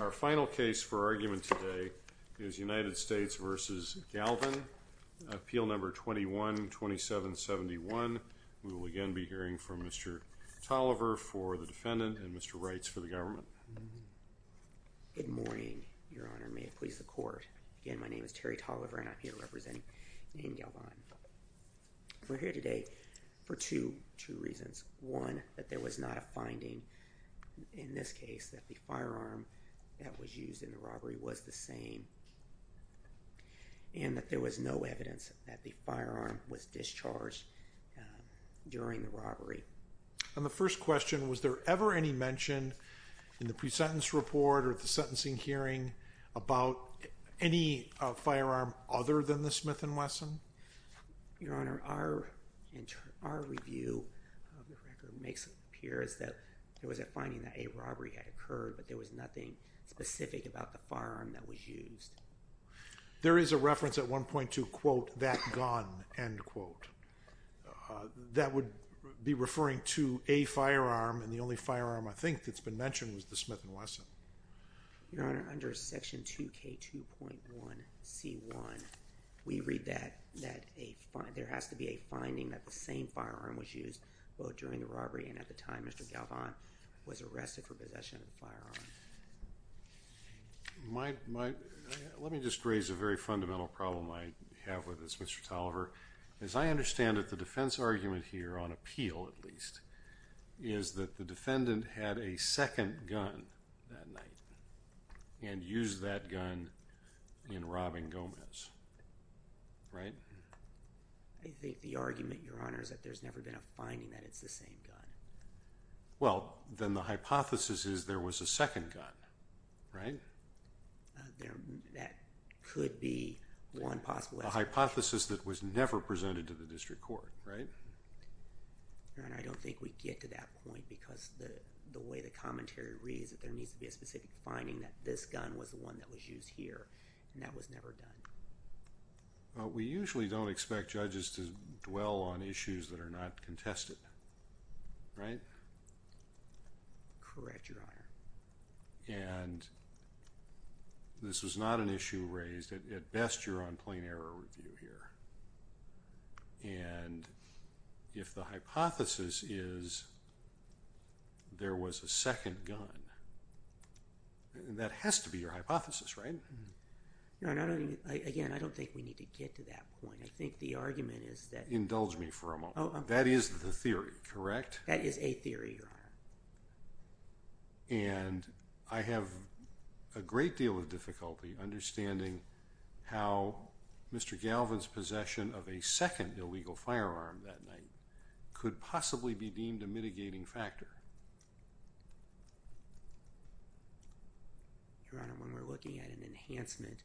Our final case for argument today is United States v. Galvan, Appeal No. 21-2771. We will again be hearing from Mr. Tolliver for the defendant and Mr. Wrights for the government. Good morning, Your Honor. May it please the Court. Again, my name is Terry Tolliver and I'm here representing Nain Galvan. We're here today for two reasons. One, that there was not a finding in this case that the firearm that was used in the robbery was the same. And that there was no evidence that the firearm was discharged during the robbery. On the first question, was there ever any mention in the pre-sentence report or the sentencing hearing about any firearm other than the Smith & Wesson? Your Honor, our review of the record makes it appear as though there was a finding that a robbery had occurred but there was nothing specific about the firearm that was used. There is a reference at 1.2, quote, that gun, end quote. That would be referring to a firearm and the only firearm I think that's been mentioned was the Smith & Wesson. Your Honor, under section 2K2.1C1, we read that there has to be a finding that the same firearm was used both during the robbery and at the time Mr. Galvan was arrested for possession of the firearm. Let me just raise a very fundamental problem I have with this, Mr. Tolliver. As I understand it, the defense argument here, on appeal at least, is that the defendant had a second gun that night and used that gun in robbing Gomez, right? I think the argument, Your Honor, is that there's never been a finding that it's the same gun. Well, then the hypothesis is there was a second gun, right? That could be one possible explanation. It's a hypothesis that was never presented to the district court, right? Your Honor, I don't think we get to that point because the way the commentary reads that there needs to be a specific finding that this gun was the one that was used here and that was never done. We usually don't expect judges to dwell on issues that are not contested, right? Correct, Your Honor. And this was not an issue raised. At best, you're on plain error review here. And if the hypothesis is there was a second gun, that has to be your hypothesis, right? No, again, I don't think we need to get to that point. I think the argument is that… Indulge me for a moment. That is the theory, correct? That is a theory, Your Honor. And I have a great deal of difficulty understanding how Mr. Galvin's possession of a second illegal firearm that night could possibly be deemed a mitigating factor. Your Honor, when we're looking at an enhancement,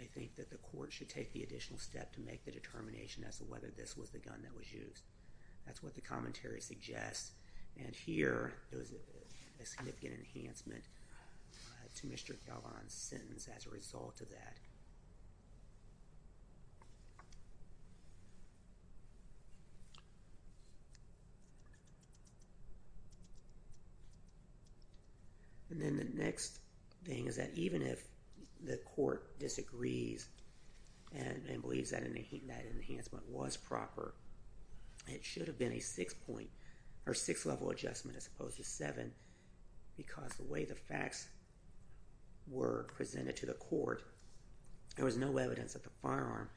I think that the court should take the additional step to make the determination as to whether this was the gun that was used. That's what the commentary suggests. And here, there was a significant enhancement to Mr. Galvin's sentence as a result of that. And then the next thing is that even if the court disagrees and believes that enhancement was proper, it should have been a six-level adjustment as opposed to seven because the way the facts were presented to the court, there was no evidence that the firearm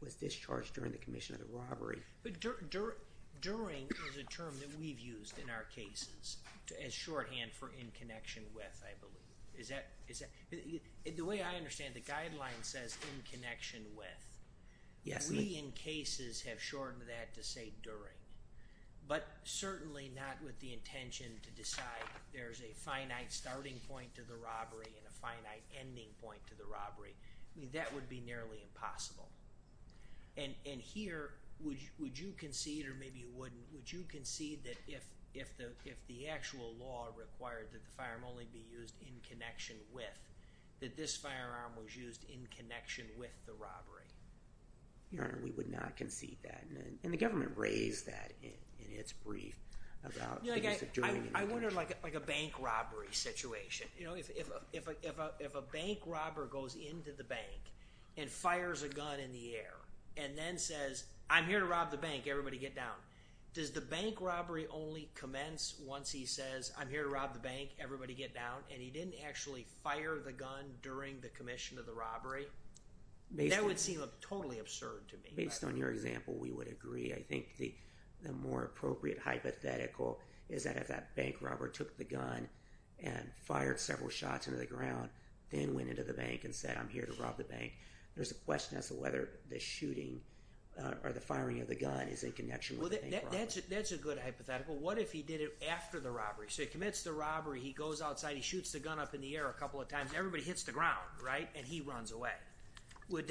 was discharged during the commission of the robbery. But during is a term that we've used in our cases as shorthand for in connection with, I believe. The way I understand it, the guideline says in connection with. We, in cases, have shortened that to say during. But certainly not with the intention to decide there's a finite starting point to the robbery and a finite ending point to the robbery. I mean, that would be nearly impossible. And here, would you concede, or maybe you wouldn't, would you concede that if the actual law required that the firearm only be used in connection with, that this firearm was used in connection with the robbery? Your Honor, we would not concede that. And the government raised that in its brief about things of doing and not doing. I wonder, like a bank robbery situation. You know, if a bank robber goes into the bank and fires a gun in the air and then says, I'm here to rob the bank. Everybody get down. Does the bank robbery only commence once he says, I'm here to rob the bank. Everybody get down. And he didn't actually fire the gun during the commission of the robbery? That would seem totally absurd to me. Based on your example, we would agree. I think the more appropriate hypothetical is that if that bank robber took the gun and fired several shots into the ground, then went into the bank and said, I'm here to rob the bank. There's a question as to whether the shooting or the firing of the gun is in connection with the bank robbery. That's a good hypothetical. What if he did it after the robbery? So he commits the robbery. He goes outside. He shoots the gun up in the air a couple of times. Everybody hits the ground, right? And he runs away. Would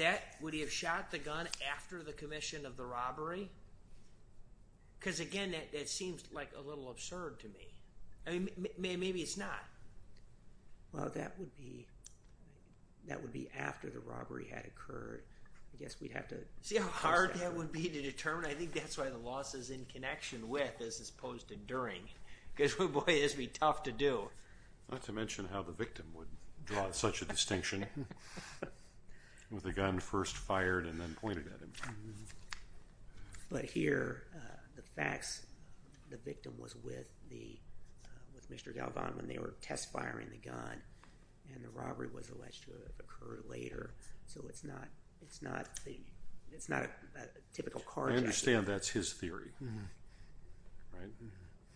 he have shot the gun after the commission of the robbery? Because, again, that seems a little absurd to me. Maybe it's not. Well, that would be after the robbery had occurred. I guess we'd have to see how hard that would be to determine. I think that's why the loss is in connection with as opposed to during. Because, boy, this would be tough to do. Not to mention how the victim would draw such a distinction. With the gun first fired and then pointed at him. But here, the facts, the victim was with Mr. Galvan when they were test firing the gun. And the robbery was alleged to have occurred later. So it's not a typical car accident. I understand that's his theory. Right?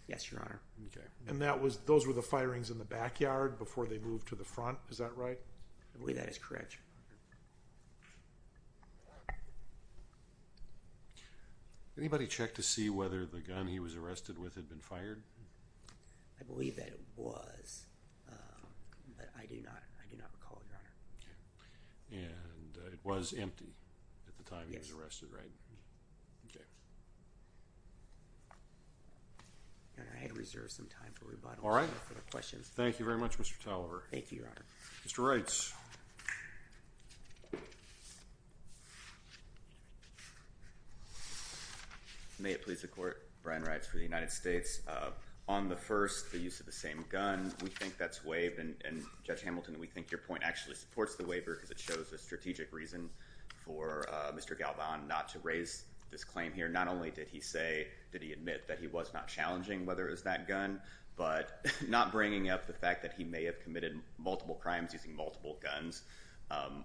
Yes, Your Honor. Okay. And those were the firings in the backyard before they moved to the front, is that right? I believe that is correct, Your Honor. Anybody check to see whether the gun he was arrested with had been fired? I believe that it was. But I do not recall it, Your Honor. And it was empty at the time he was arrested, right? Yes. Okay. Your Honor, I had reserved some time for rebuttal. All right. Thank you very much, Mr. Tolliver. Thank you, Your Honor. Mr. Reitz. May it please the Court, Brian Reitz for the United States. On the first, the use of the same gun, we think that's waived. And, Judge Hamilton, we think your point actually supports the waiver because it shows a strategic reason for Mr. Galvan not to raise this claim here. Not only did he say, did he admit that he was not challenging whether it was that gun, but not bringing up the fact that he may have committed multiple crimes using multiple guns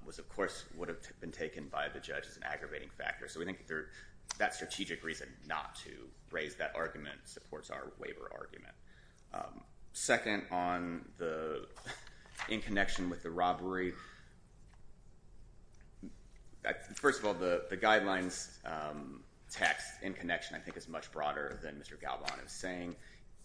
was, of course, would have been taken by the judge as an aggravating factor. So we think that strategic reason not to raise that argument supports our waiver argument. Second, in connection with the robbery, first of all, the guidelines text in connection I think is much broader than Mr. Galvan is saying.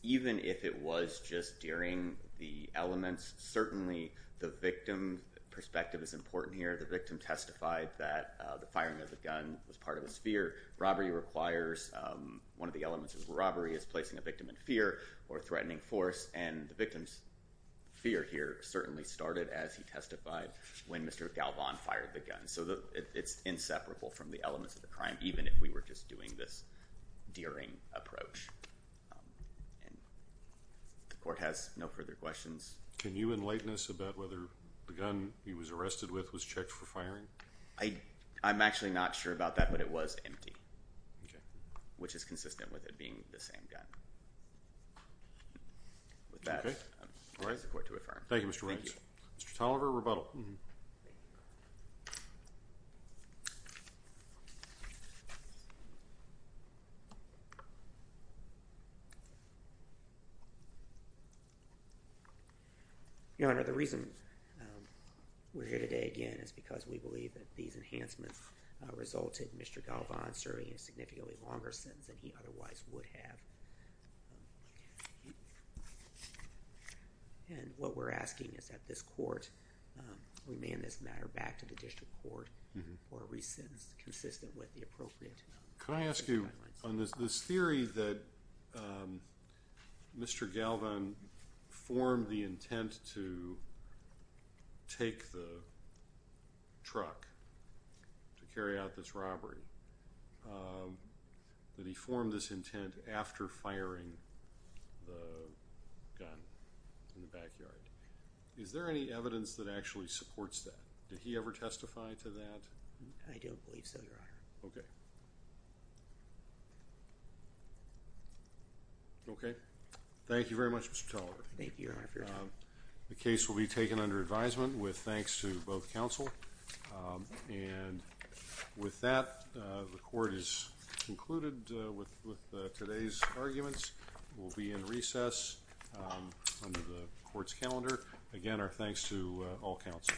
Even if it was just during the elements, certainly the victim perspective is important here. The victim testified that the firing of the gun was part of his fear. Robbery requires, one of the elements of robbery is placing a victim in fear or threatening force. And the victim's fear here certainly started as he testified when Mr. Galvan fired the gun. So it's inseparable from the elements of the crime, even if we were just doing this deering approach. The Court has no further questions. Can you enlighten us about whether the gun he was arrested with was checked for firing? I'm actually not sure about that, but it was empty, which is consistent with it being the same gun. With that, I'll raise the Court to affirm. Thank you, Mr. Riggs. Mr. Tolliver, rebuttal. Mm-hmm. Your Honor, the reason we're here today again is because we believe that these enhancements resulted in Mr. Galvan serving a significantly longer sentence than he otherwise would have. And what we're asking is that this Court remand this matter back to the District Court for a re-sentence consistent with the appropriate guidelines. Could I ask you, on this theory that Mr. Galvan formed the intent to take the truck to carry out this robbery, that he formed this intent after firing the gun in the backyard, is there any evidence that actually supports that? Did he ever testify to that? I don't believe so, Your Honor. Okay. Okay. Thank you very much, Mr. Tolliver. Thank you, Your Honor. The case will be taken under advisement with thanks to both counsel. And with that, the Court is concluded with today's arguments. We'll be in recess under the Court's calendar. Again, our thanks to all counsel.